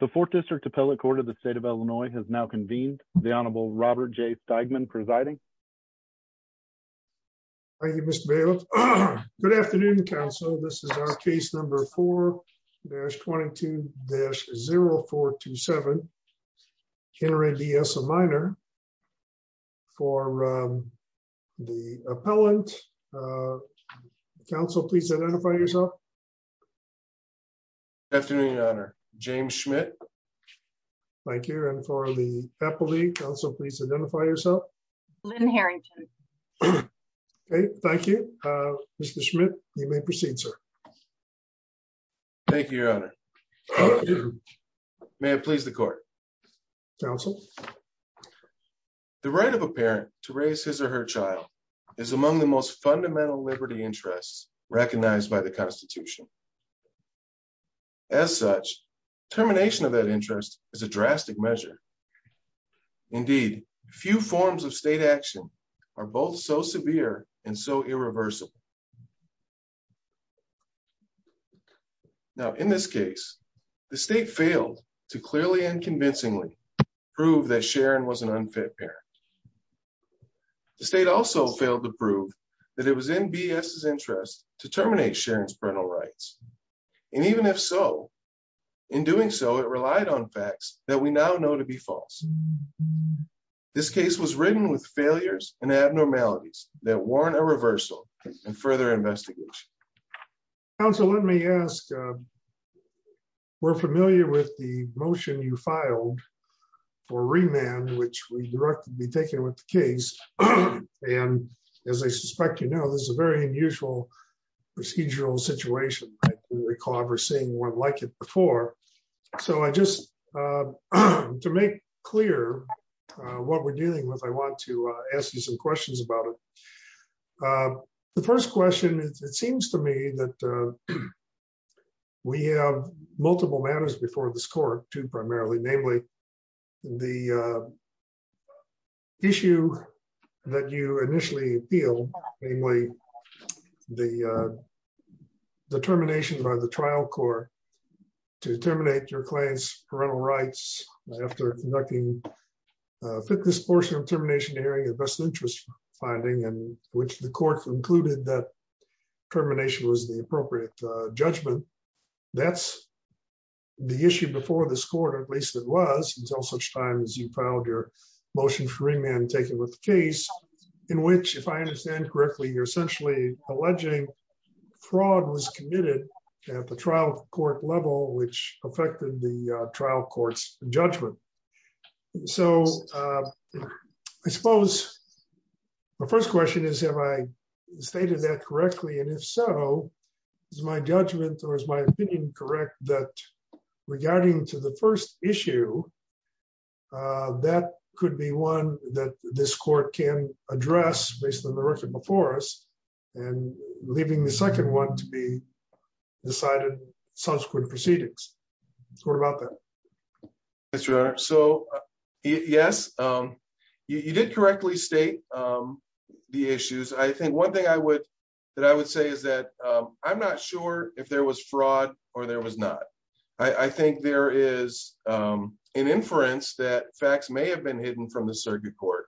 The 4th District Appellate Court of the State of Illinois has now convened. The Honorable Robert J. Steigman presiding. Thank you, Mr. Bailiff. Good afternoon, Council. This is our case number 4-22-0427, Henry D. S. O'Meara, for the appellant. Council, please identify yourself. Good afternoon, Your Honor. James Schmidt. Thank you. And for the appellate, Council, please identify yourself. Lynn Harrington. Okay, thank you. Mr. Schmidt, you may proceed, sir. Thank you, Your Honor. May it please the Court. Council. The right of a parent to raise his or her child is among the most fundamental liberty interests recognized by the Constitution. As such, termination of that interest is a drastic measure. Indeed, few forms of state action are both so severe and so irreversible. Now, in this case, the state failed to clearly and convincingly prove that Sharon was an unfit parent. The state also failed to prove that it was in B.S.'s interest to terminate Sharon's and even if so, in doing so, it relied on facts that we now know to be false. This case was ridden with failures and abnormalities that warrant a reversal and further investigation. Council, let me ask, we're familiar with the motion you filed for remand, which we be taking with the case. And as I suspect, you know, this is a very unusual procedural situation. I don't recall ever seeing one like it before. So I just, to make clear what we're dealing with, I want to ask you some questions about it. The first question is, it seems to me that we have multiple matters before this Court too, primarily, namely, the issue that you initially appealed, namely, the termination by the trial court to terminate your client's parental rights after conducting a fitness portion of termination hearing and best interest finding and which the court concluded that termination was the until such time as you filed your motion for remand taken with the case, in which, if I understand correctly, you're essentially alleging fraud was committed at the trial court level, which affected the trial court's judgment. So I suppose my first question is, have I stated that correctly? And if so, is my judgment or is my opinion correct that regarding to the first issue, uh, that could be one that this court can address based on the record before us, and leaving the second one to be decided subsequent proceedings? What about that? Yes, Your Honor. So yes, you did correctly state the issues. I think one thing I would, that I would say is that I'm not sure if there was fraud or there was not. I think there is an inference that facts may have been hidden from the circuit court,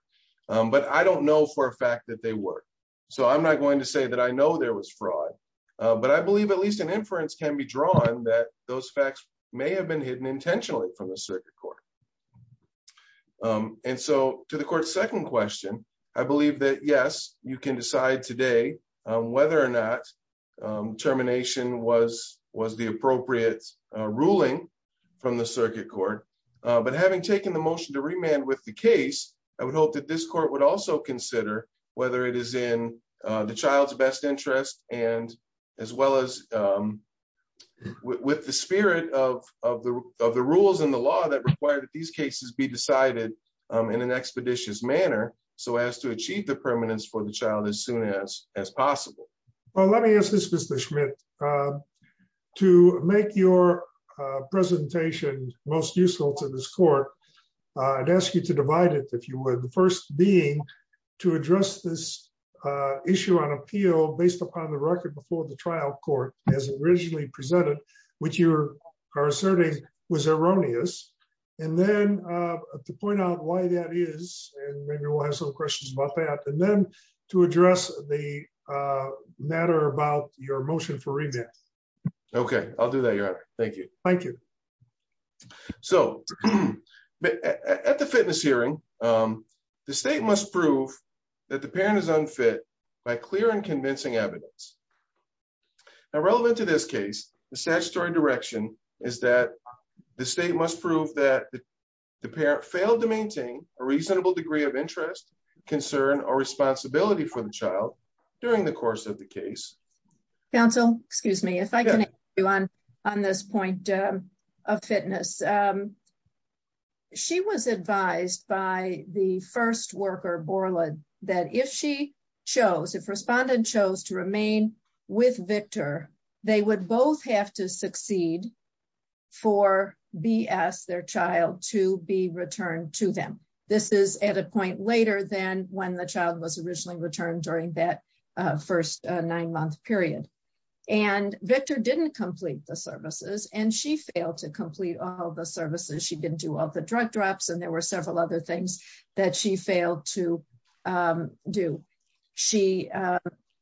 but I don't know for a fact that they were. So I'm not going to say that I know there was fraud, but I believe at least an inference can be drawn that those facts may have been hidden intentionally from the circuit court. And so to the court's second question, I believe that yes, you can decide today whether or not termination was the appropriate ruling from the circuit court. But having taken the motion to remand with the case, I would hope that this court would also consider whether it is in the child's best interest, and as well as with the spirit of the rules and the law that require that these cases be decided in an expeditious manner, so as to achieve the permanence for the child as soon as possible. Well, let me ask this Mr. Schmidt, to make your presentation most useful to this court, I'd ask you to divide it, if you would. The first being to address this issue on appeal based upon the record before the trial court as originally presented, which you are asserting was erroneous. And then to point out why that is, and maybe we'll have some questions about that. And then to address the matter about your motion for remand. Okay, I'll do that, your honor. Thank you. Thank you. So at the fitness hearing, the state must prove that the parent is unfit by clear and convincing evidence. Now relevant to this case, the statutory direction is that the state must prove that the parent failed to maintain a reasonable degree of interest, concern, or responsibility for the child during the course of the case. Counsel, excuse me, if I can ask you on this point of fitness. She was advised by the first worker Borland, that if she chose, if respondent chose remain with Victor, they would both have to succeed for BS their child to be returned to them. This is at a point later than when the child was originally returned during that first nine month period. And Victor didn't complete the services and she failed to complete all the services. She didn't do all the drug drops. And there were several other things that she failed to do. She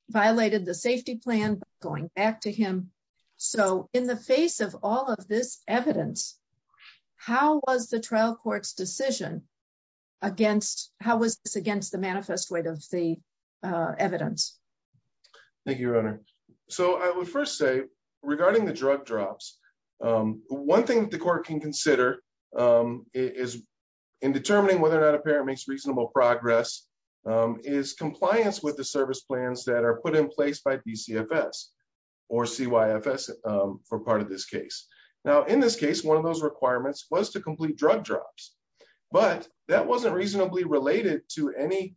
violated the safety plan going back to him. So in the face of all of this evidence, how was the trial court's decision against how was this against the manifest weight of the evidence? Thank you, your honor. So I would first say regarding the drug drops. One thing that the court can consider is in determining whether or not a parent makes reasonable progress is compliance with the service plans that are put in place by BCFS or CYFS for part of this case. Now in this case, one of those requirements was to complete drug drops, but that wasn't reasonably related to anything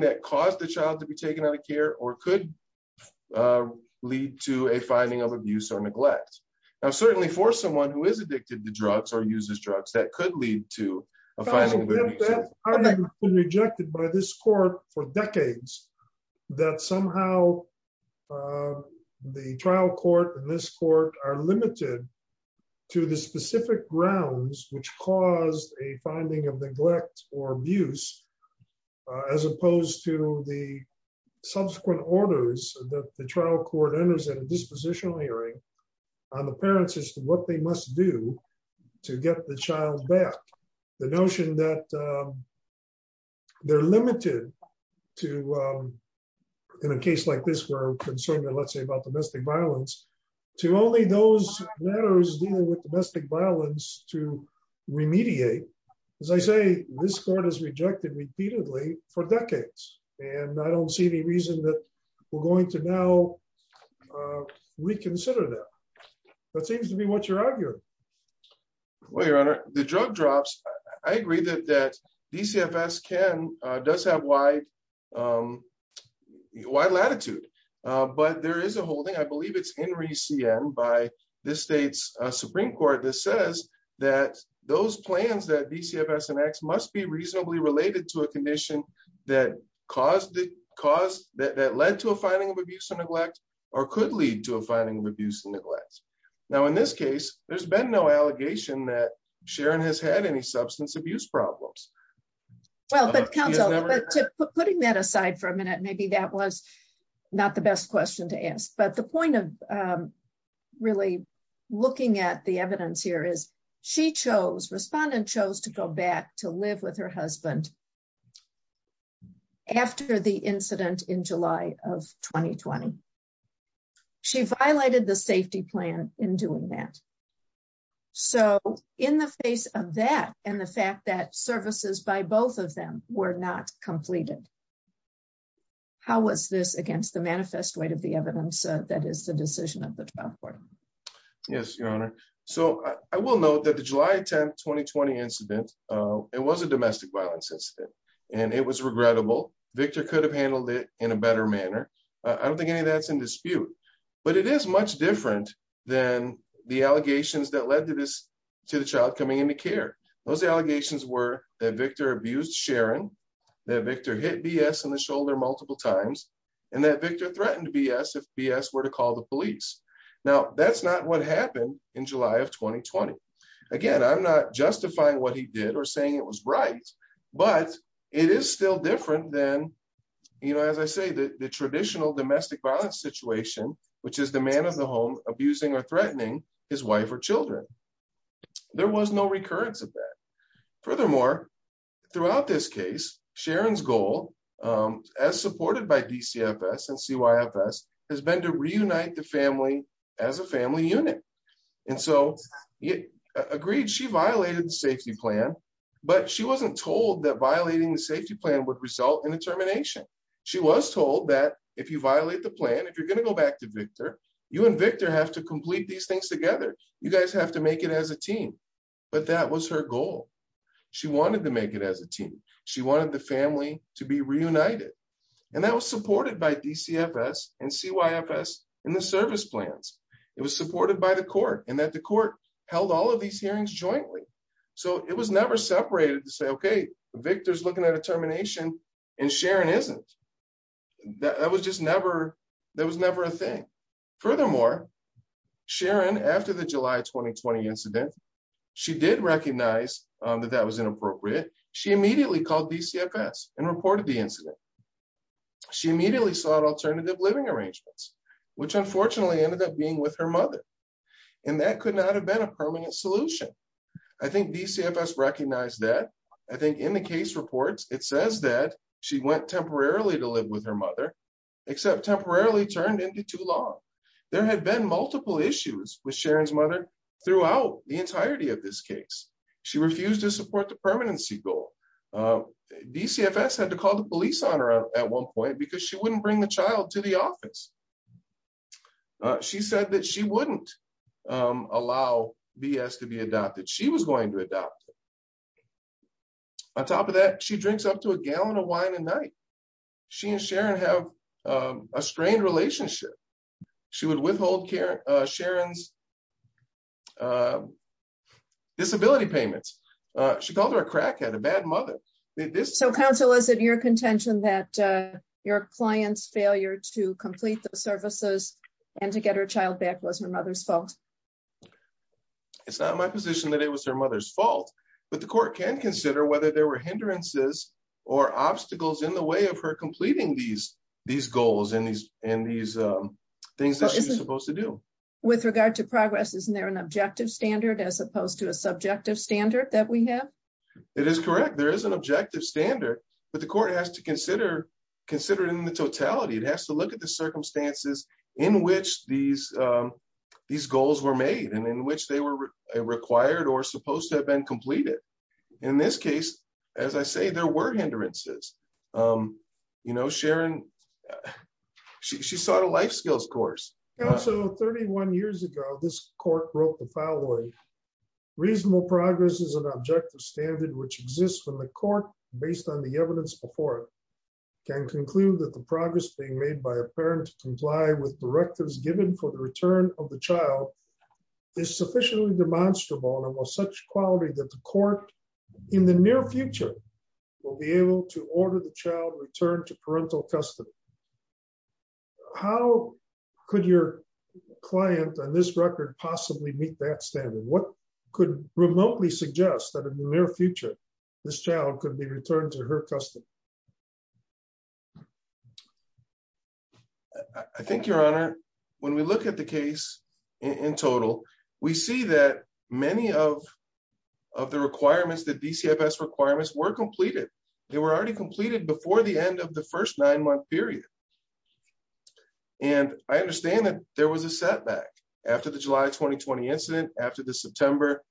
that caused the child to be taken out or could lead to a finding of abuse or neglect. Now, certainly for someone who is addicted to drugs or uses drugs, that could lead to a finding. I've been rejected by this court for decades that somehow the trial court and this court are limited to the specific grounds which caused a subsequent orders that the trial court enters at a dispositional hearing on the parents as to what they must do to get the child back. The notion that they're limited to in a case like this where we're concerned, let's say about domestic violence, to only those matters dealing with domestic violence to remediate. As I say, this court has rejected repeatedly for decades, and I don't see any reason that we're going to now reconsider that. That seems to be what you're arguing. Well, Your Honor, the drug drops, I agree that DCFS does have wide latitude, but there is a holding, I believe it's Henry C.N. by this state's Supreme Court that says that those plans that must be reasonably related to a condition that led to a finding of abuse or neglect, or could lead to a finding of abuse and neglect. Now, in this case, there's been no allegation that Sharon has had any substance abuse problems. Well, but counsel, putting that aside for a minute, maybe that was not the best question to ask. But the point of really looking at the evidence here is she chose, respondent chose, to go back to live with her husband after the incident in July of 2020. She violated the safety plan in doing that. So in the face of that, and the fact that services by both of them were not completed, how was this against the manifest weight of the evidence that is the decision of the trial court? Yes, Your Honor. So I will note that the July 10th, 2020 incident, it was a domestic violence incident, and it was regrettable. Victor could have handled it in a better manner. I don't think any of that's in dispute, but it is much different than the allegations that led to this, to the child coming into care. Those allegations were that Victor abused Sharon, that Victor hit B.S. in the shoulder multiple times, and that Victor threatened B.S. if B.S. were to call the police. Now that's not what happened in July of 2020. Again, I'm not justifying what he did or saying it was right, but it is still different than, you know, as I say, the traditional domestic violence situation, which is the man of the home abusing or threatening his wife or children. There was no recurrence of that. Furthermore, throughout this case, Sharon's goal, as supported by DCFS and CYFS, has been to reunite the family as a family unit. And so, agreed, she violated the safety plan, but she wasn't told that violating the safety plan would result in a termination. She was told that if you violate the plan, if you're going to go back to Victor, you and Victor have to complete these things together. You guys have to make it as a team, but that was her goal. She wanted to make it as a team. She wanted the family to be reunited, and that was supported by DCFS and CYFS in the service plans. It was supported by the court and that the court held all of these hearings jointly. So, it was never separated to say, okay, Victor's looking at a termination and Sharon isn't. That was just never, that was never a thing. Furthermore, Sharon, after the July 2020 incident, she did recognize that that was inappropriate. She immediately called DCFS and reported the incident. She immediately sought alternative living arrangements, which unfortunately ended up being with her mother, and that could not have been a permanent solution. I think DCFS recognized that. I think in the case reports, it says that she went temporarily to live with her mother, except temporarily turned into too long. There had been multiple issues with Sharon's mother throughout the entirety of this case. She refused to support the permanency goal. DCFS had to call the police on her at one point because she wouldn't bring the child to the office. She said that she wouldn't allow BS to be adopted. She was going to adopt it. On top of that, she drinks up to a gallon of wine a night. She and Sharon have a strained relationship. She would withhold Sharon's disability payments. She called her a crackhead, a bad mother. So, counsel, is it your contention that your client's failure to complete the services and to get her child back was her mother's fault? It's not my position that it was her mother's fault, but the court can consider whether there were hindrances or obstacles in the way of her completing these goals and these things that she was supposed to do. With regard to progress, isn't there an objective standard as opposed to a subjective standard that we have? It is correct. There is an objective standard, but the court has to consider it in the totality. It has to look at the circumstances in which these goals were made and in which they were required or supposed to have been completed. In this case, as I say, there were hindrances. Sharon sought a life skills course. 31 years ago, this court wrote the following. Reasonable progress is an objective standard which exists when the court, based on the evidence before it, can conclude that the progress being made by a parent to comply with directives given for the return of the child is sufficiently demonstrable and of such quality that the court, in the near future, will be able to order the child returned to parental custody. How could your client on this record possibly meet that standard? What could remotely suggest that in the near future, this child could be returned to her custody? I think, Your Honor, when we look at the case in total, we see that many of the requirements, the DCFS requirements, were completed. They were already completed before the end of the first nine-month period. I understand that there was a setback after the July 2020 incident, after the September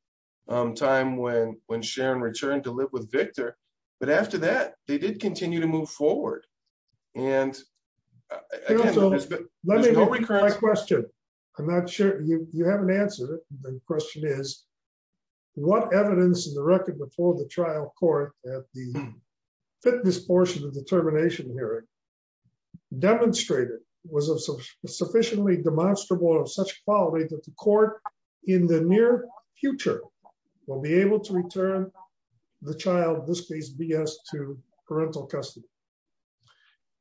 time when Sharon returned to live with Victor, but after that, they did continue to move forward. Let me go back to my question. I'm not sure you haven't answered it. The question is, what evidence in the record before the trial court at the fitness portion of the termination hearing demonstrated was sufficiently demonstrable and of such quality that the court, in the near future, will be able to return the child, in this case, BS, to parental custody?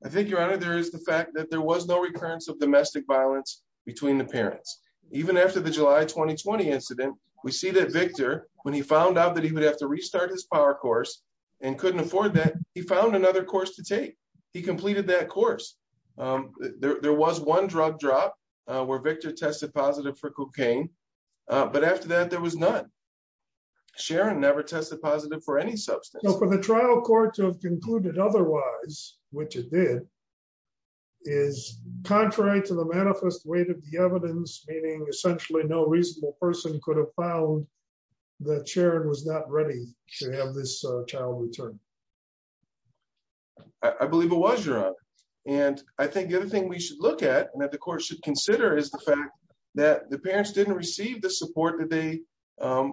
I think, Your Honor, there is the fact that there was no recurrence of domestic violence between the parents. Even after the July 2020 incident, we see that Victor, when he found out that he would have to restart his power course and couldn't afford that, he found another course to take. He completed that course. There was one drug drop where Victor tested positive for cocaine, but after that, there was none. Sharon never tested positive for any substance. For the trial court to have concluded otherwise, which it did, is contrary to the manifest weight of the evidence, meaning essentially no reasonable person could have found that Sharon was not ready to have this child returned. I believe it was, Your Honor. I think the other thing we should look at and that the court should consider is the fact that the parents didn't receive the support that they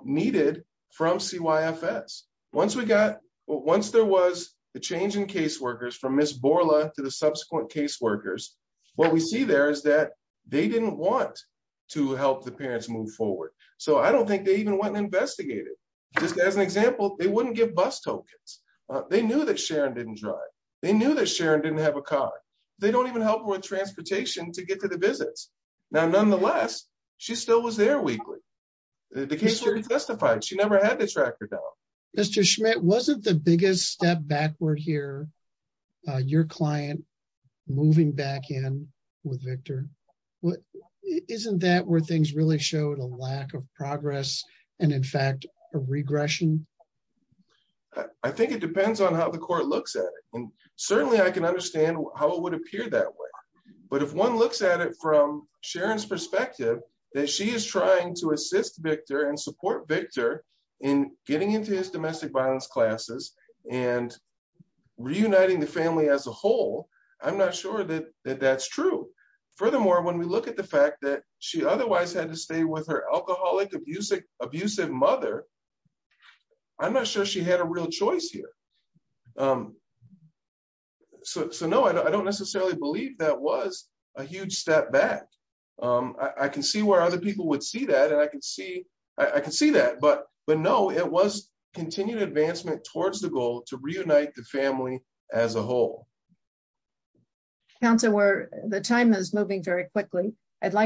needed from CYFS. Once there was the change in caseworkers from Ms. Borla to the subsequent caseworkers, what we see there is that they didn't want to help the parents move forward. I don't think they even went and investigated. Just as an example, they wouldn't give bus tokens. They knew that Sharon didn't drive. They knew that Sharon didn't have a car. They don't even help with transportation to get to the visits. Now, nonetheless, she still was there weekly. The casework is justified. She never had to track her down. Mr. Schmidt, wasn't the biggest step backward here your client moving back in with Victor? Isn't that where things really showed a lack of progress and, in fact, a regression? I think it depends on how the court looks at it. Certainly, I can understand how it would appear that way. But if one looks at it from Sharon's perspective, that she is trying to assist Victor and support Victor in getting into his domestic violence classes and reuniting the family as a whole, I'm not sure that that's true. Furthermore, when we look at the fact that she otherwise had to stay with her alcoholic, abusive mother, I'm not sure she had a real choice here. So, no, I don't necessarily believe that was a huge step back. I can see where other people would see that. I can see that. But, no, it was continued advancement towards the goal to reunite the family as a whole. Counselor, the time is moving very quickly. I do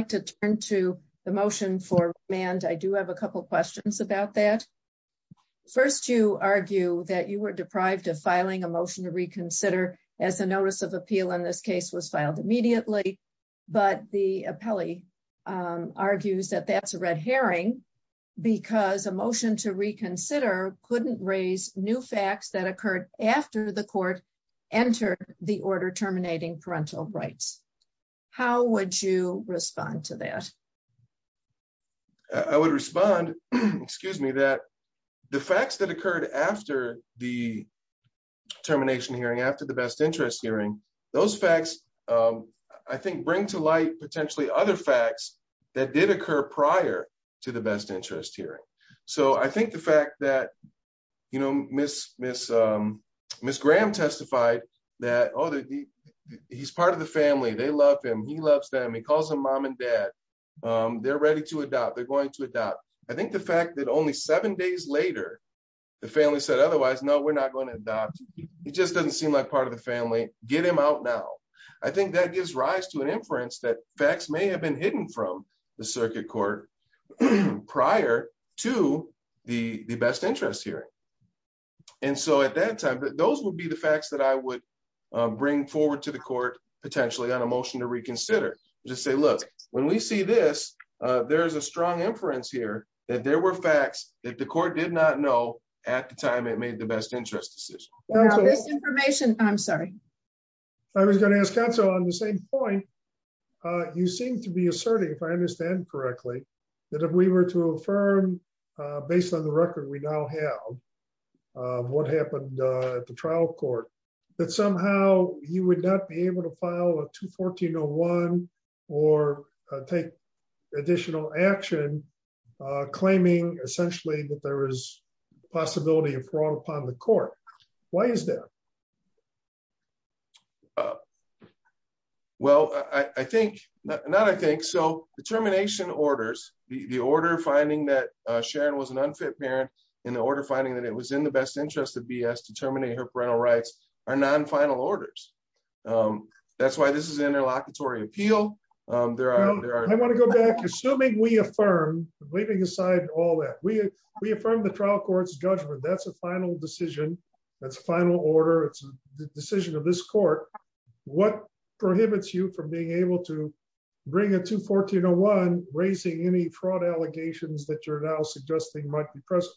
have a couple questions about that. First, you argue that you were deprived of filing a motion to reconsider as a notice of appeal in this case was filed immediately. But the appellee argues that that's a red herring because a motion to reconsider couldn't raise new facts that occurred after the court entered the order terminating parental rights. How would you respond to that? I would respond, excuse me, that the facts that occurred after the termination hearing, after the best interest hearing, those facts, I think, bring to light potentially other facts that did occur prior to the best interest hearing. So, I think the fact that, you know, Ms. Graham testified that, oh, he's part of the family. They love him. He loves them. He calls them mom and dad. They're ready to adopt. They're going to adopt. I think the fact that only seven days later the family said otherwise, no, we're not going to adopt. It just doesn't seem like part of the family. Get him out now. I think that gives rise to an inference that facts may have been hidden from the circuit court prior to the best interest hearing. And so, at that time, those would be the facts that I would bring forward to the court potentially on a motion to reconsider. Just say, look, when we see this, there's a strong inference here that there were facts that the court did not know at the time it made the best interest decision. This information, I'm sorry. I was going to ask counsel on the same point. You seem to be asserting, if I understand correctly, that if we were to affirm based on the file of 214.01 or take additional action, claiming essentially that there is possibility of fraud upon the court, why is that? Well, I think, not I think, so the termination orders, the order finding that Sharon was an unfit parent and the order finding that it was in the best interest of B.S. to terminate her that's why this is an interlocutory appeal. I want to go back. Assuming we affirm, leaving aside all that, we affirm the trial court's judgment. That's a final decision. That's final order. It's the decision of this court. What prohibits you from being able to bring a 214.01 raising any fraud allegations that you're now suggesting might be present?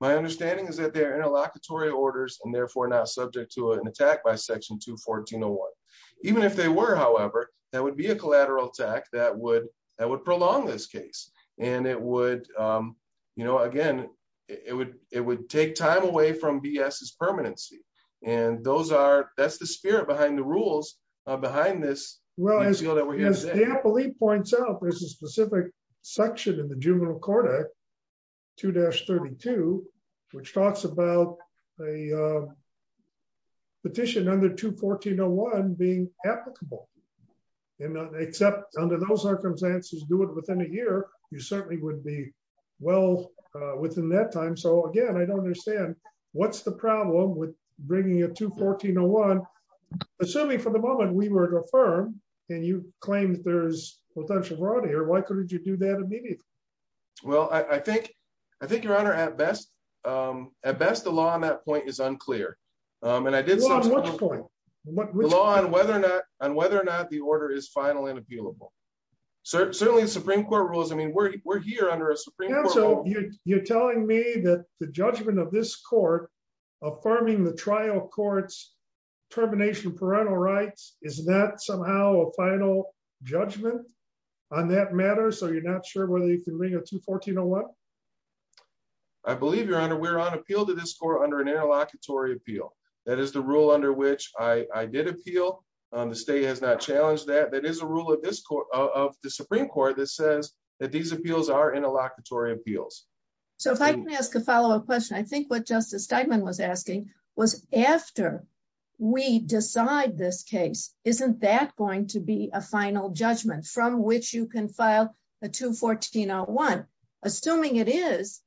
My understanding is that they're interlocutory orders and therefore not subject to an attack by section 214.01. Even if they were, however, that would be a collateral attack that would prolong this case. And it would, you know, again, it would take time away from B.S.'s permanency. And those are, that's the spirit behind the rules, behind this. Well, as the appellee points out, there's a specific section in the juvenile codec, which talks about a petition under 214.01 being applicable. Except under those circumstances, do it within a year, you certainly would be well within that time. So again, I don't understand what's the problem with bringing a 214.01. Assuming for the moment we were to affirm and you claim that there's potential fraud here, why couldn't you do that immediately? Well, I think, I think, your honor, at best, at best, the law on that point is unclear. And I did so on whether or not, on whether or not the order is final and appealable. Certainly the Supreme Court rules. I mean, we're here under a Supreme Court rule. You're telling me that the judgment of this court, affirming the trial court's termination of parental rights, is that somehow a final judgment on that matter? So you're not sure whether you can bring a 214.01? I believe, your honor, we're on appeal to this court under an interlocutory appeal. That is the rule under which I did appeal. The state has not challenged that. That is a rule of this court, of the Supreme Court that says that these appeals are interlocutory appeals. So if I can ask a follow up question, I think what Justice Steinman was asking was after we decide this case, isn't that going to be a final judgment from which you can bring a 214.01? Assuming it is,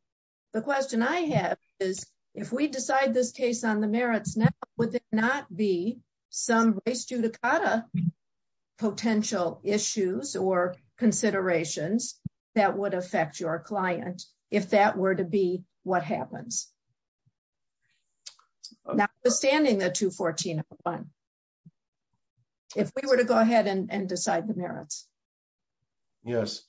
the question I have is if we decide this case on the merits now, would there not be some race judicata potential issues or considerations that would affect your client if that were to be what happens? Notwithstanding the 214.01, if we were to go ahead and decide the merits? Yes.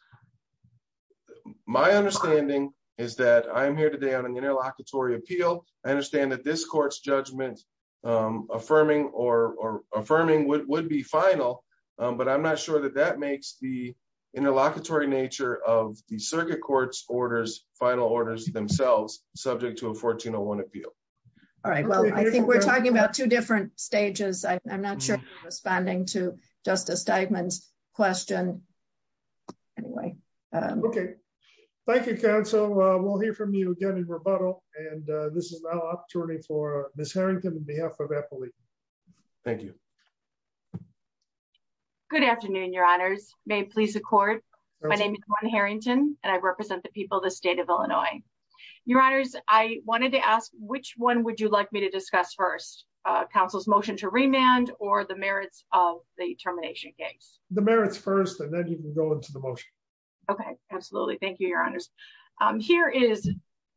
My understanding is that I'm here today on an interlocutory appeal. I understand that this court's judgment affirming would be final, but I'm not sure that that makes the interlocutory nature of the circuit court's final orders themselves subject to a 1401 appeal. All right. Well, I think we're talking about two different stages. I'm not sure I'm responding to Justice Steinman's question. Anyway. Okay. Thank you, counsel. We'll hear from you again in rebuttal, and this is now an opportunity for Ms. Harrington on behalf of Eppley. Thank you. Good afternoon, your honors. May it please the court. My name is Gwen Harrington, and I represent the people of the state of Illinois. Your honors, I wanted to ask which one would you like me to answer, counsel's motion to remand or the merits of the termination case? The merits first, and then you can go into the motion. Okay. Absolutely. Thank you, your honors. Here is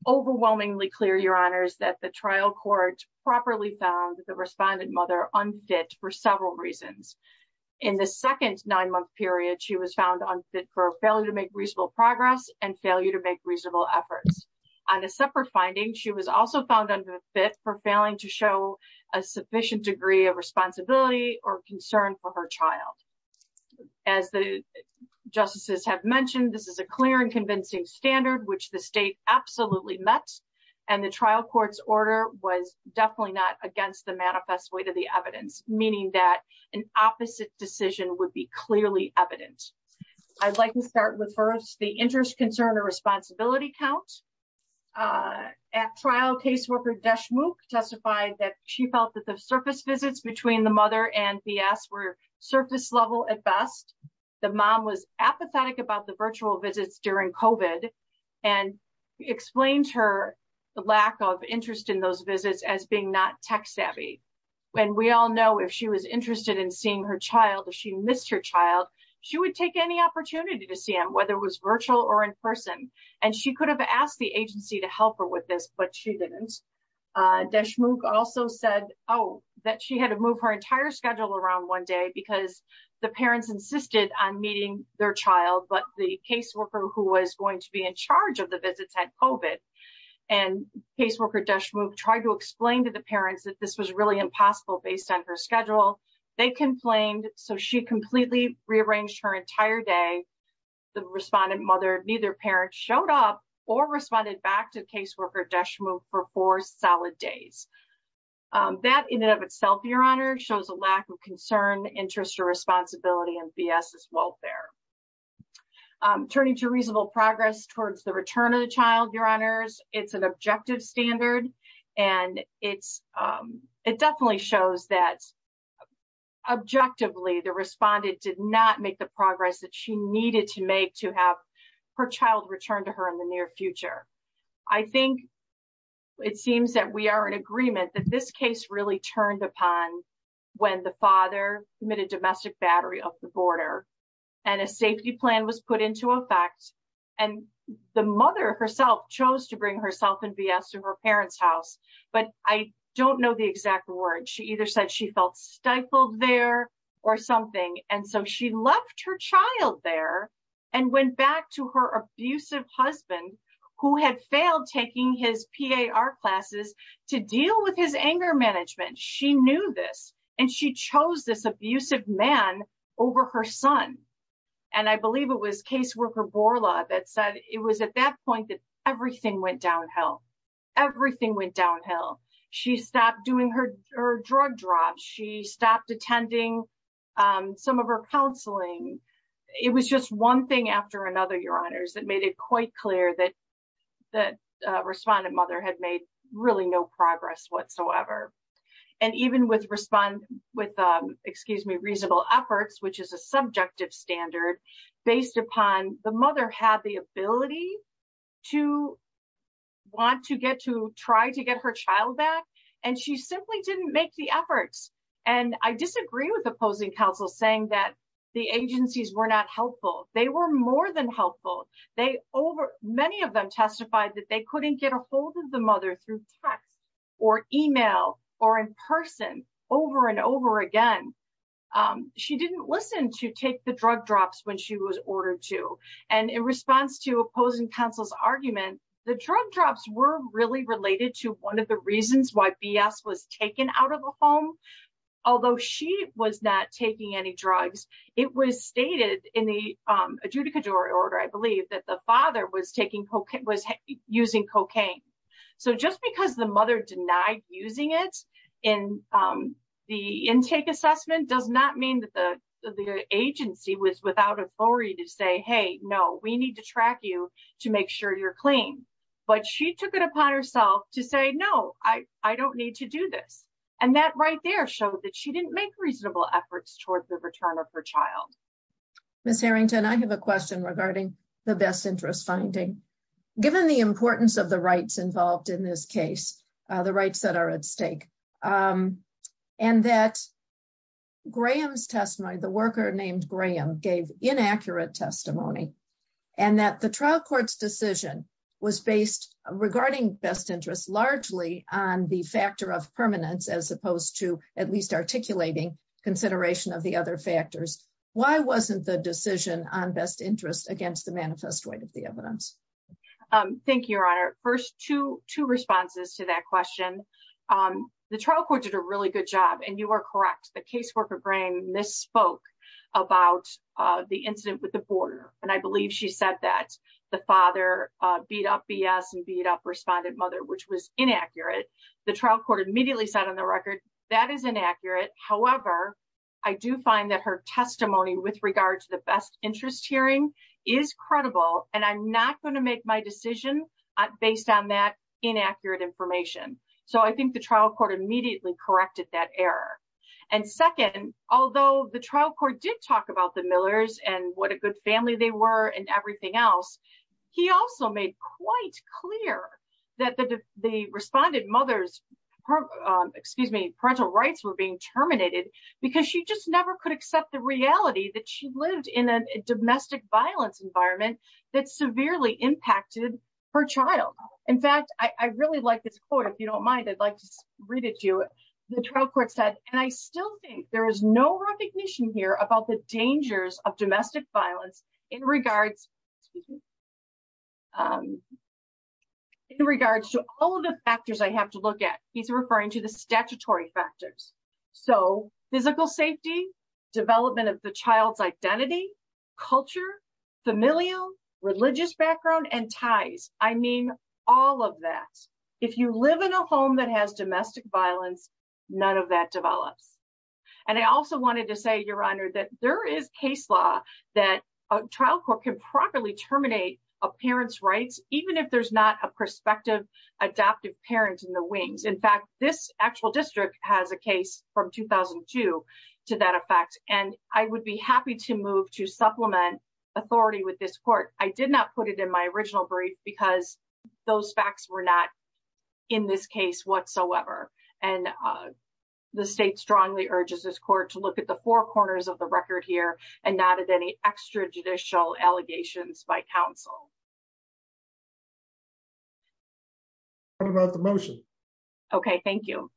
overwhelmingly clear, your honors, that the trial court properly found the respondent mother unfit for several reasons. In the second nine-month period, she was found unfit for failure to make reasonable progress and failure to make reasonable efforts. On a separate finding, she was also found unfit for failing to show a sufficient degree of responsibility or concern for her child. As the justices have mentioned, this is a clear and convincing standard which the state absolutely met, and the trial court's order was definitely not against the manifest weight of the evidence, meaning that an opposite decision would be clearly evident. I'd like to start with first the interest, concern, or responsibility counts. At trial, caseworker Deshmukh testified that she felt that the surface visits between the mother and BS were surface level at best. The mom was apathetic about the virtual visits during COVID and explained her the lack of interest in those visits as being not tech savvy. And we all know if she was interested in seeing her child, if she missed her child, she would take any opportunity to see him, whether it was virtual or in person. And she could have asked the agency to help her with this, but she didn't. Deshmukh also said, oh, that she had to move her entire schedule around one day because the parents insisted on meeting their child, but the caseworker who was going to be in charge of the visits had COVID. And caseworker Deshmukh tried to explain to the parents that this was really impossible based on her schedule. They complained, so she completely rearranged her entire day. The respondent mother, neither parent showed up or responded back to caseworker Deshmukh for four solid days. That in and of itself, Your Honor, shows a lack of concern, interest, or responsibility in BS's welfare. Turning to reasonable progress towards the return of the child, Your Honors, it's an objection. Objectively, the respondent did not make the progress that she needed to make to have her child returned to her in the near future. I think it seems that we are in agreement that this case really turned upon when the father emitted domestic battery up the border and a safety plan was put into effect. And the mother herself chose to bring herself and BS to her house, but I don't know the exact word. She either said she felt stifled there or something. And so she left her child there and went back to her abusive husband who had failed taking his PAR classes to deal with his anger management. She knew this, and she chose this abusive man over her son. And I believe it was caseworker Borla that said it was at that point that everything went downhill. Everything went downhill. She stopped doing her drug drops. She stopped attending some of her counseling. It was just one thing after another, Your Honors, that made it quite clear that the respondent mother had made really no progress whatsoever. And even with reasonable efforts, which is a subjective standard, based upon the mother had the ability to want to get to try to get her child back, and she simply didn't make the efforts. And I disagree with opposing counsel saying that the agencies were not helpful. They were more than helpful. Many of them testified that they couldn't get a hold of the mother through text or email or in person over and over again. She didn't listen to take the drug drops when she was ordered to. And in response to opposing counsel's argument, the drug drops were really related to one of the reasons why B.S. was taken out of the home. Although she was not taking any drugs, it was stated in the adjudicatory order, I believe, that the father was taking cocaine, was using cocaine. So just because the mother denied using it in the intake assessment does not mean that the agency was without authority to say, hey, no, we need to track you to make sure you're clean. But she took it upon herself to say, no, I don't need to do this. And that right there showed that she didn't make reasonable efforts towards the return of her child. Ms. Harrington, I have a question regarding the best interest finding. Given the importance of rights involved in this case, the rights that are at stake, and that Graham's testimony, the worker named Graham, gave inaccurate testimony, and that the trial court's decision was based regarding best interest largely on the factor of permanence as opposed to at least articulating consideration of the other factors. Why wasn't the decision on best interest against the manifest weight of the evidence? Thank you, Your Honor. First, two responses to that question. The trial court did a really good job, and you are correct. The caseworker, Graham, misspoke about the incident with the border. And I believe she said that the father beat up B.S. and beat up respondent mother, which was inaccurate. The trial court immediately said on the record, that is inaccurate. However, I do find that her testimony with regard to the best interest hearing is credible, and I'm not going to make my decision based on that inaccurate information. So I think the trial court immediately corrected that error. And second, although the trial court did talk about the Millers and what a good family they were and everything else, he also made quite clear that the respondent mother's parental rights were being terminated because she just in a domestic violence environment that severely impacted her child. In fact, I really like this quote. If you don't mind, I'd like to read it to you. The trial court said, and I still think there is no recognition here about the dangers of domestic violence in regards to all of the factors I have to look at. He's referring to the statutory factors. So physical safety, development of the child's identity, culture, familial, religious background, and ties. I mean all of that. If you live in a home that has domestic violence, none of that develops. And I also wanted to say, Your Honor, that there is case law that a trial court can properly terminate a parent's rights, even if there's not a prospective adoptive parent in the wings. In fact, this actual and I would be happy to move to supplement authority with this court. I did not put it in my original brief because those facts were not in this case whatsoever. And the state strongly urges this court to look at the four corners of the record here and not at any extrajudicial allegations by counsel. What about the motion? Okay, thank you.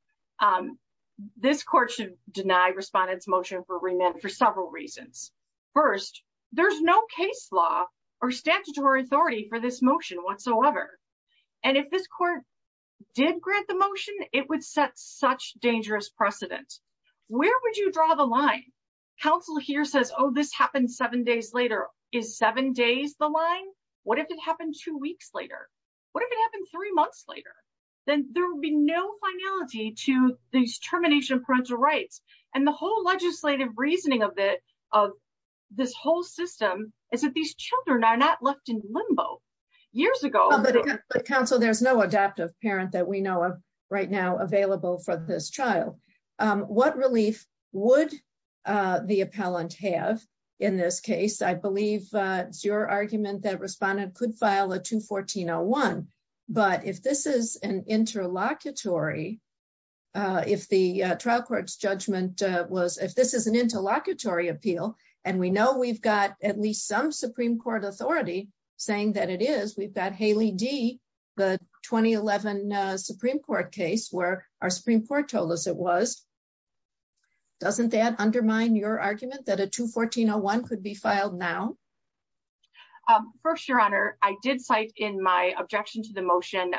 This court should deny respondents motion for several reasons. First, there's no case law or statutory authority for this motion whatsoever. And if this court did grant the motion, it would set such dangerous precedent. Where would you draw the line? Counsel here says, Oh, this happened seven days later. Is seven days the line? What if it happened two weeks later? What if it happened three months later, then there will be no finality to these termination parental rights. And the whole legislative reasoning of it, of this whole system is that these children are not left in limbo. Years ago, but counsel, there's no adoptive parent that we know of right now available for this child. What relief would the appellant have? In this case, I believe it's your argument that respondent could file a 214-01. But if this is an interlocutory, if the trial court's judgment was if this is an interlocutory appeal, and we know we've got at least some Supreme Court authority saying that it is we've got Haley D, the 2011 Supreme Court case where our Supreme Court told us it was. Doesn't that undermine your argument that a 214-01 could be filed now? Um, first, Your Honor, I did cite in my objection to the motion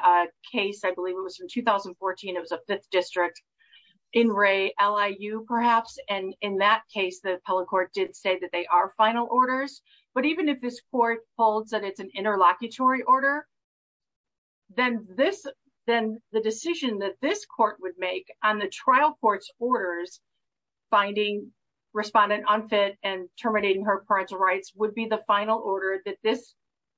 case, I believe it was in 2014, it was a fifth district in Ray Li you perhaps. And in that case, the appellate court did say that they are final orders. But even if this court holds that it's an interlocutory order, then this, then the decision that this court would make on the trial court's orders, finding respondent unfit and terminating her parental rights would be the final order that this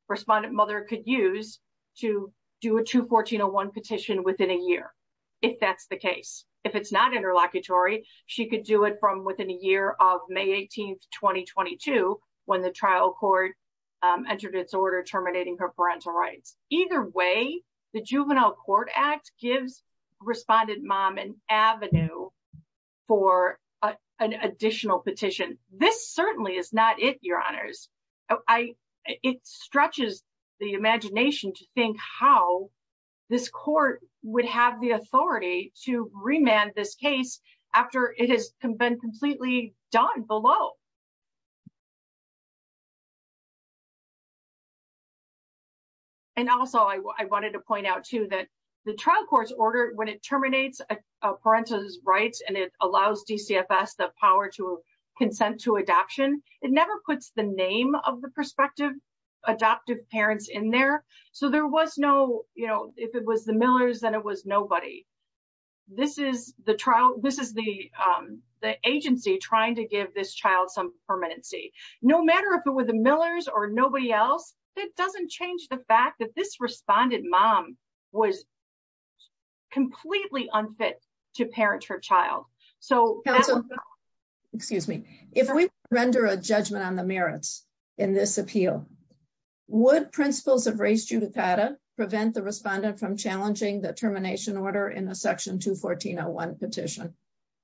respondent mother could use to do a 214-01 petition within a year. If that's the case, if it's not interlocutory, she could do it from within a year of May 18, 2022, when the trial court entered its order terminating her parental rights. Either way, the Juvenile Court Act gives respondent mom an avenue for an additional petition. This certainly is not it, Your Honors. I, it stretches the imagination to think how this court would have the authority to remand this case after it has been completely done below. And also, I wanted to point out too, that the trial court's order when it terminates parental rights, and it allows DCFS the power to consent to adoption, it never puts the name of the prospective adoptive parents in there. So there was no, you know, if it was the Millers, then it was nobody. This is the trial, this is the agency trying to give this child some permanency. No matter if it were the Millers or nobody else, that doesn't change the fact that this respondent mom was completely unfit to parent her child. So- Counsel, excuse me. If we render a judgment on the merits in this appeal, would principles of race judicata prevent the respondent from challenging the termination order in the section 214.01 petition?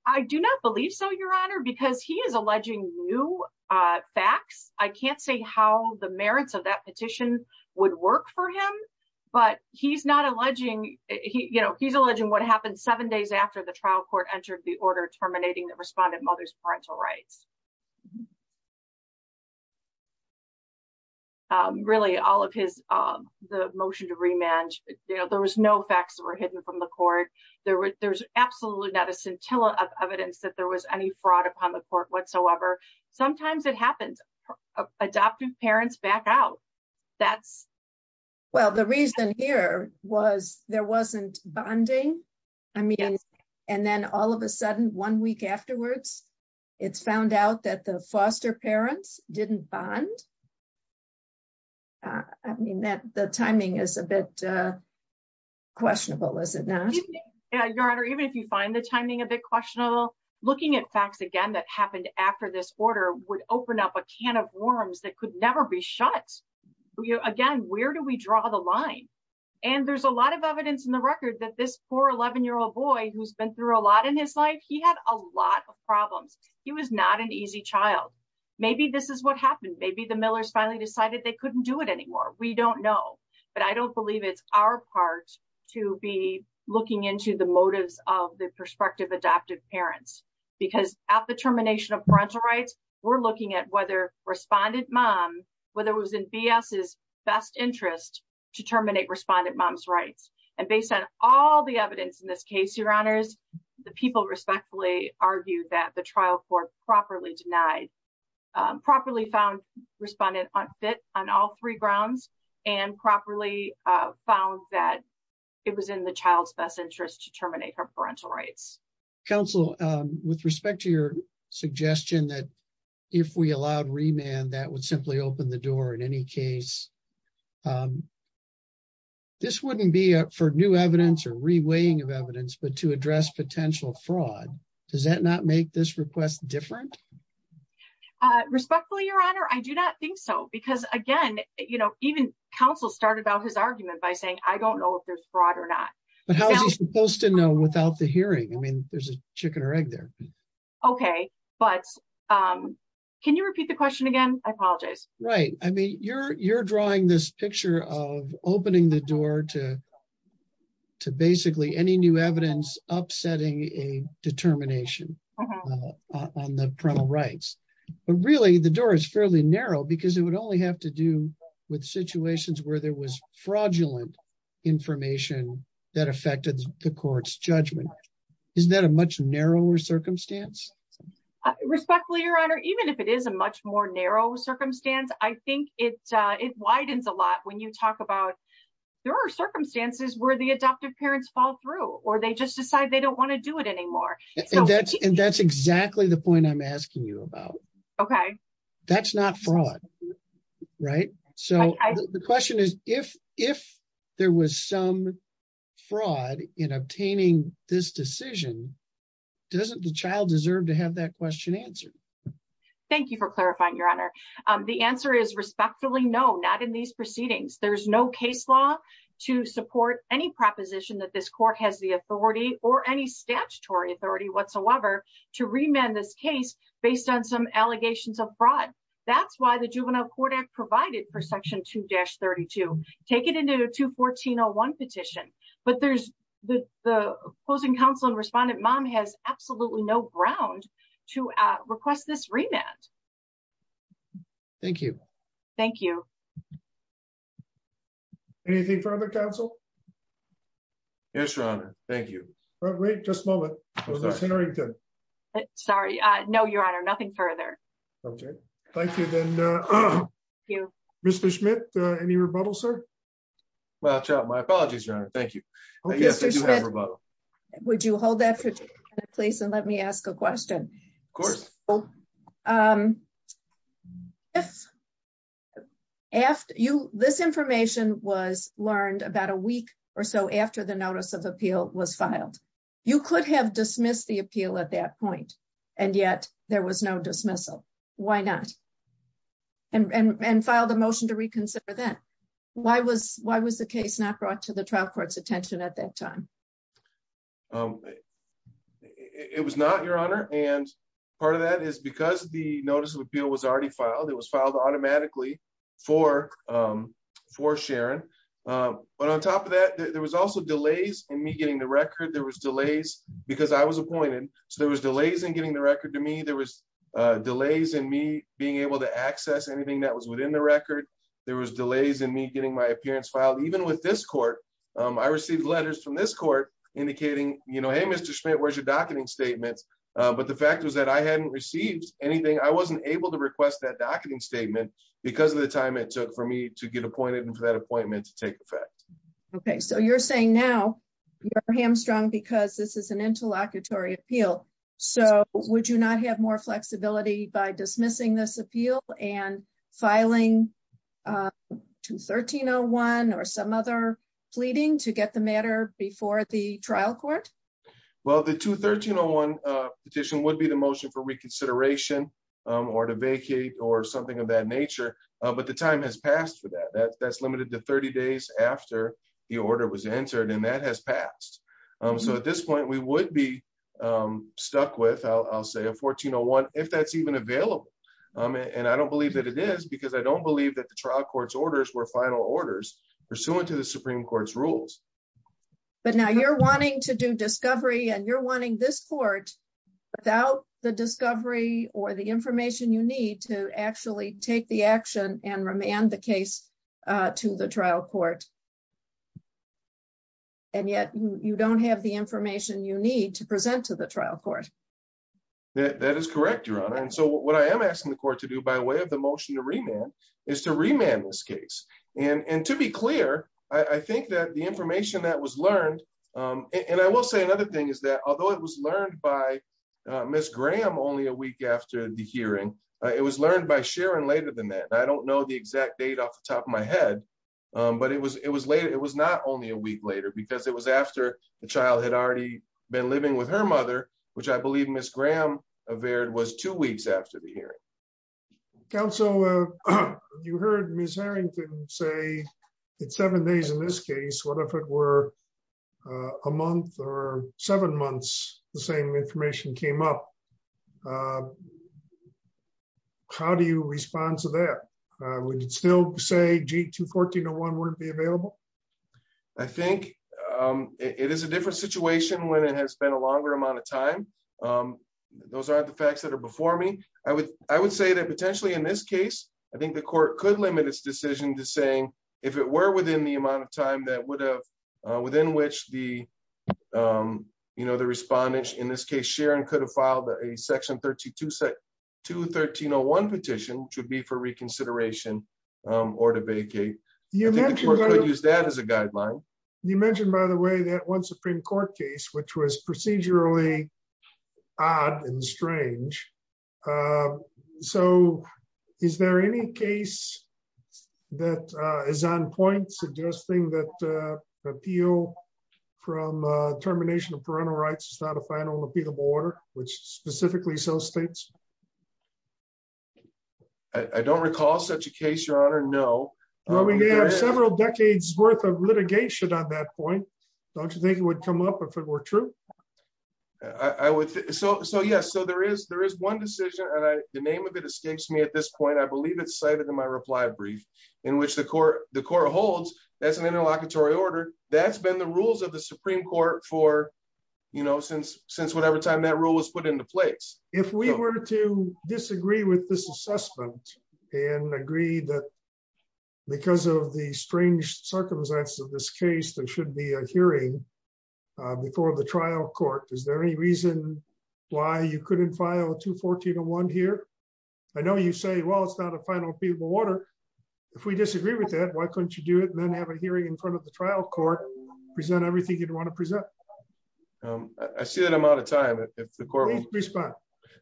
I do not believe so, Your Honor, because he is alleging new facts. I can't say how the merits of that petition would work for him, but he's not alleging, you know, he's alleging what happened seven days after the trial court entered the order terminating the respondent mother's parental rights. Really, all of his, the motion to remand, you know, there was no facts that were hidden from the court. There was absolutely not a scintilla of evidence that there was any fraud upon the court whatsoever. Sometimes it happens. Adoptive parents back out. That's- One week afterwards, it's found out that the foster parents didn't bond. I mean that the timing is a bit questionable, is it not? Yeah, Your Honor, even if you find the timing a bit questionable, looking at facts again that happened after this order would open up a can of worms that could never be shut. Again, where do we draw the line? And there's a lot of evidence in the record that this poor 11-year-old boy who's been through a lot in his life, he had a lot of problems. He was not an easy child. Maybe this is what happened. Maybe the Millers finally decided they couldn't do it anymore. We don't know. But I don't believe it's our part to be looking into the motives of the prospective adoptive parents. Because at the termination of parental rights, we're looking at whether respondent mom, whether it was in B.S.'s best interest to terminate respondent mom's all the evidence in this case, Your Honors, the people respectfully argued that the trial court properly denied, properly found respondent unfit on all three grounds and properly found that it was in the child's best interest to terminate her parental rights. Counsel, with respect to your suggestion that if we allowed remand, that would simply open the door in any case. This wouldn't be for new evidence or re-weighing of evidence, but to address potential fraud. Does that not make this request different? Respectfully, Your Honor, I do not think so. Because again, you know, even counsel started out his argument by saying, I don't know if there's fraud or not. But how is he supposed to know without the hearing? I mean, there's a I apologize. Right. I mean, you're you're drawing this picture of opening the door to to basically any new evidence, upsetting a determination on the parental rights. But really, the door is fairly narrow, because it would only have to do with situations where there was fraudulent information that affected the court's judgment. Isn't that a much narrower circumstance? Respectfully, Your Honor, even if it is a much more narrow circumstance, I think it it widens a lot when you talk about there are circumstances where the adoptive parents fall through or they just decide they don't want to do it anymore. And that's and that's exactly the point I'm asking you about. OK, that's not fraud. Right. So the question is, if if there was some in obtaining this decision, doesn't the child deserve to have that question answered? Thank you for clarifying, Your Honor. The answer is respectfully, no, not in these proceedings. There's no case law to support any proposition that this court has the authority or any statutory authority whatsoever to remand this case based on some allegations of fraud. That's why the the opposing counsel and respondent mom has absolutely no ground to request this remand. Thank you. Thank you. Anything from the council? Yes, Your Honor. Thank you. Wait just a moment. Sorry. No, Your Honor. Nothing further. OK, thank you. Then, Mr. Schmidt, any rebuttal, sir? Well, my apologies, Your Honor. Thank you. Yes, I do have a rebuttal. Would you hold that for a minute, please? And let me ask a question. Of course. If after you, this information was learned about a week or so after the notice of appeal was filed, you could have dismissed the appeal at that point. And yet there was no dismissal. Why not? And filed a motion to reconsider that. Why was why was the case not brought to the trial court's attention at that time? It was not, Your Honor. And part of that is because the notice of appeal was already filed. It was filed automatically for for Sharon. But on top of that, there was also delays in me getting the record. There was delays because I was appointed. So there was delays in getting the record to me. There was delays in me being able to access anything that was within the record. There was delays in me getting my appearance filed. Even with this court, I received letters from this court indicating, you know, hey, Mr. Schmidt, where's your docketing statements? But the fact was that I hadn't received anything. I wasn't able to request that docketing statement because of the time it took for me to get appointed and for that appointment to take effect. OK, so you're saying now you're hamstrung because this is an interlocutory appeal. So would you not have more flexibility by dismissing this appeal and filing 213-01 or some other pleading to get the matter before the trial court? Well, the 213-01 petition would be the motion for reconsideration or to vacate or something of that nature. But the time has passed for that. That's limited to 30 days after the order was stuck with, I'll say, a 14-01, if that's even available. And I don't believe that it is because I don't believe that the trial court's orders were final orders pursuant to the Supreme Court's rules. But now you're wanting to do discovery and you're wanting this court without the discovery or the information you need to actually take the action and remand the case to the trial court. And yet you don't have the information you need to present to the trial court. That is correct, Your Honor. And so what I am asking the court to do by way of the motion to remand is to remand this case. And to be clear, I think that the information that was learned, and I will say another thing is that although it was learned by Ms. Graham only a week after the hearing, it was learned by Sharon later than that. I don't know the exact date off the top of my head. But it was not only a week later, because it was after the child had already been living with her mother, which I believe Ms. Graham averred was two weeks after the hearing. Counsel, you heard Ms. Harrington say it's seven days in this case, what if it were a month or seven months, the same information came up? How do you respond to that? Would you still say G 214-01 wouldn't be available? I think it is a different situation when it has been a longer amount of time. Those are the facts that are before me. I would say that potentially in this case, I think the court could limit its decision to saying if it were within the amount of time that within which the, you know, the respondents in this case, Sharon could have filed a section 213-01 petition should be for reconsideration, or to vacate. Use that as a guideline. You mentioned, by the way, that one Supreme Court case, which was procedurally odd and strange. Um, so is there any case that is on point suggesting that the appeal from termination of parental rights is not a final repealable order, which specifically so states? I don't recall such a case, Your Honor, no. Well, we have several decades worth of litigation on that point. Don't you think it would come up if it were true? I would say so. So yes, so there is there is one decision and the name of it escapes me at this point. I believe it's cited in my reply brief in which the court the court holds that's an interlocutory order. That's been the rules of the Supreme Court for, you know, since since whatever time that rule was put into place. If we were to disagree with this assessment and agree that because of the strange circumstances of this case, there should be a hearing before the trial court. Is there any reason why you couldn't file 214 and one here? I know you say, well, it's not a final people water. If we disagree with that, why couldn't you do it and then have a hearing in front of the trial court, present everything you'd want to present? I see that I'm out of time. If the court will respond.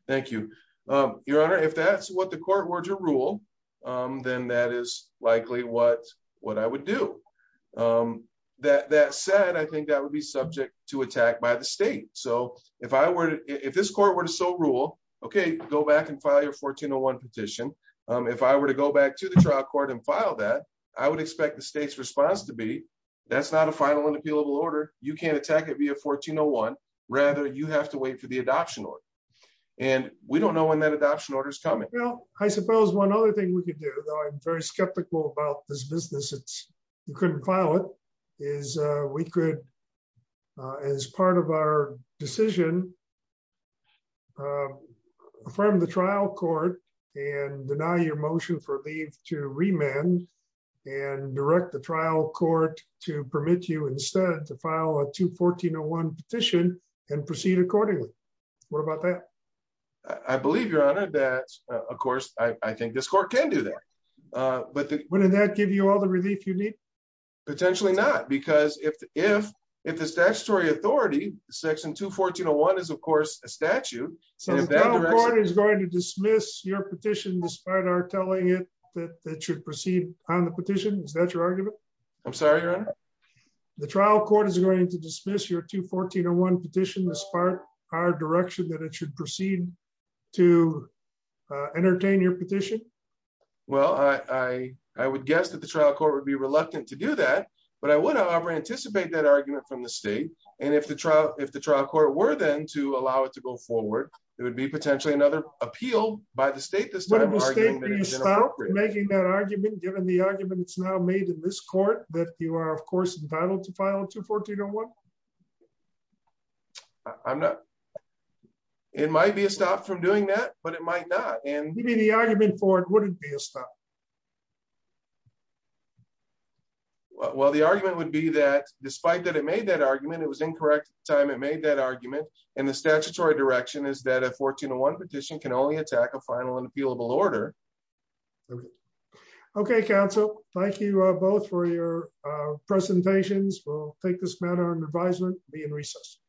Thank you, Your Honor. If that's what the court were to rule, then that is likely what what I would do. That said, I think that would be subject to attack by the state. So if I were to if this court were to so rule, okay, go back and file your 1401 petition. If I were to go back to the trial court and file that I would expect the state's response to be that's not a final and appealable order. You can't attack it via 1401. Rather, you have to wait for the adoption order. And we don't know when that adoption order is coming. Well, I suppose one other thing we could do, though I'm very skeptical about this business, it's you couldn't file it, is we could, as part of our decision, affirm the trial court and deny your motion for leave to remand and direct the trial court to permit you instead to file a 214-01 petition and proceed accordingly. What about that? I believe, Your Honor, that, of course, I think this court can do that. But wouldn't that give you all the relief you need? Potentially not. Because if, if, if the statutory authority section 214-01 is, of course, a statute, so the trial court is going to dismiss your petition, despite our telling it that it should proceed on the petition. Is that your argument? I'm sorry, Your Honor. The trial court is going to dismiss your 214-01 petition, despite our direction that it should to entertain your petition? Well, I, I would guess that the trial court would be reluctant to do that. But I would, however, anticipate that argument from the state. And if the trial, if the trial court were then to allow it to go forward, it would be potentially another appeal by the state this time. Would the state be stopped from making that argument, given the argument it's now made in this court that you are, of course, entitled to file a 214-01? I'm not, it might be a stop from doing that, but it might not. Given the argument for it, would it be a stop? Well, the argument would be that despite that it made that argument, it was incorrect at the time it made that argument. And the statutory direction is that a 14-01 petition can only attack a final and appealable order. Okay, counsel. Thank you both for your presentations. We'll take this matter under advisement and be in recess.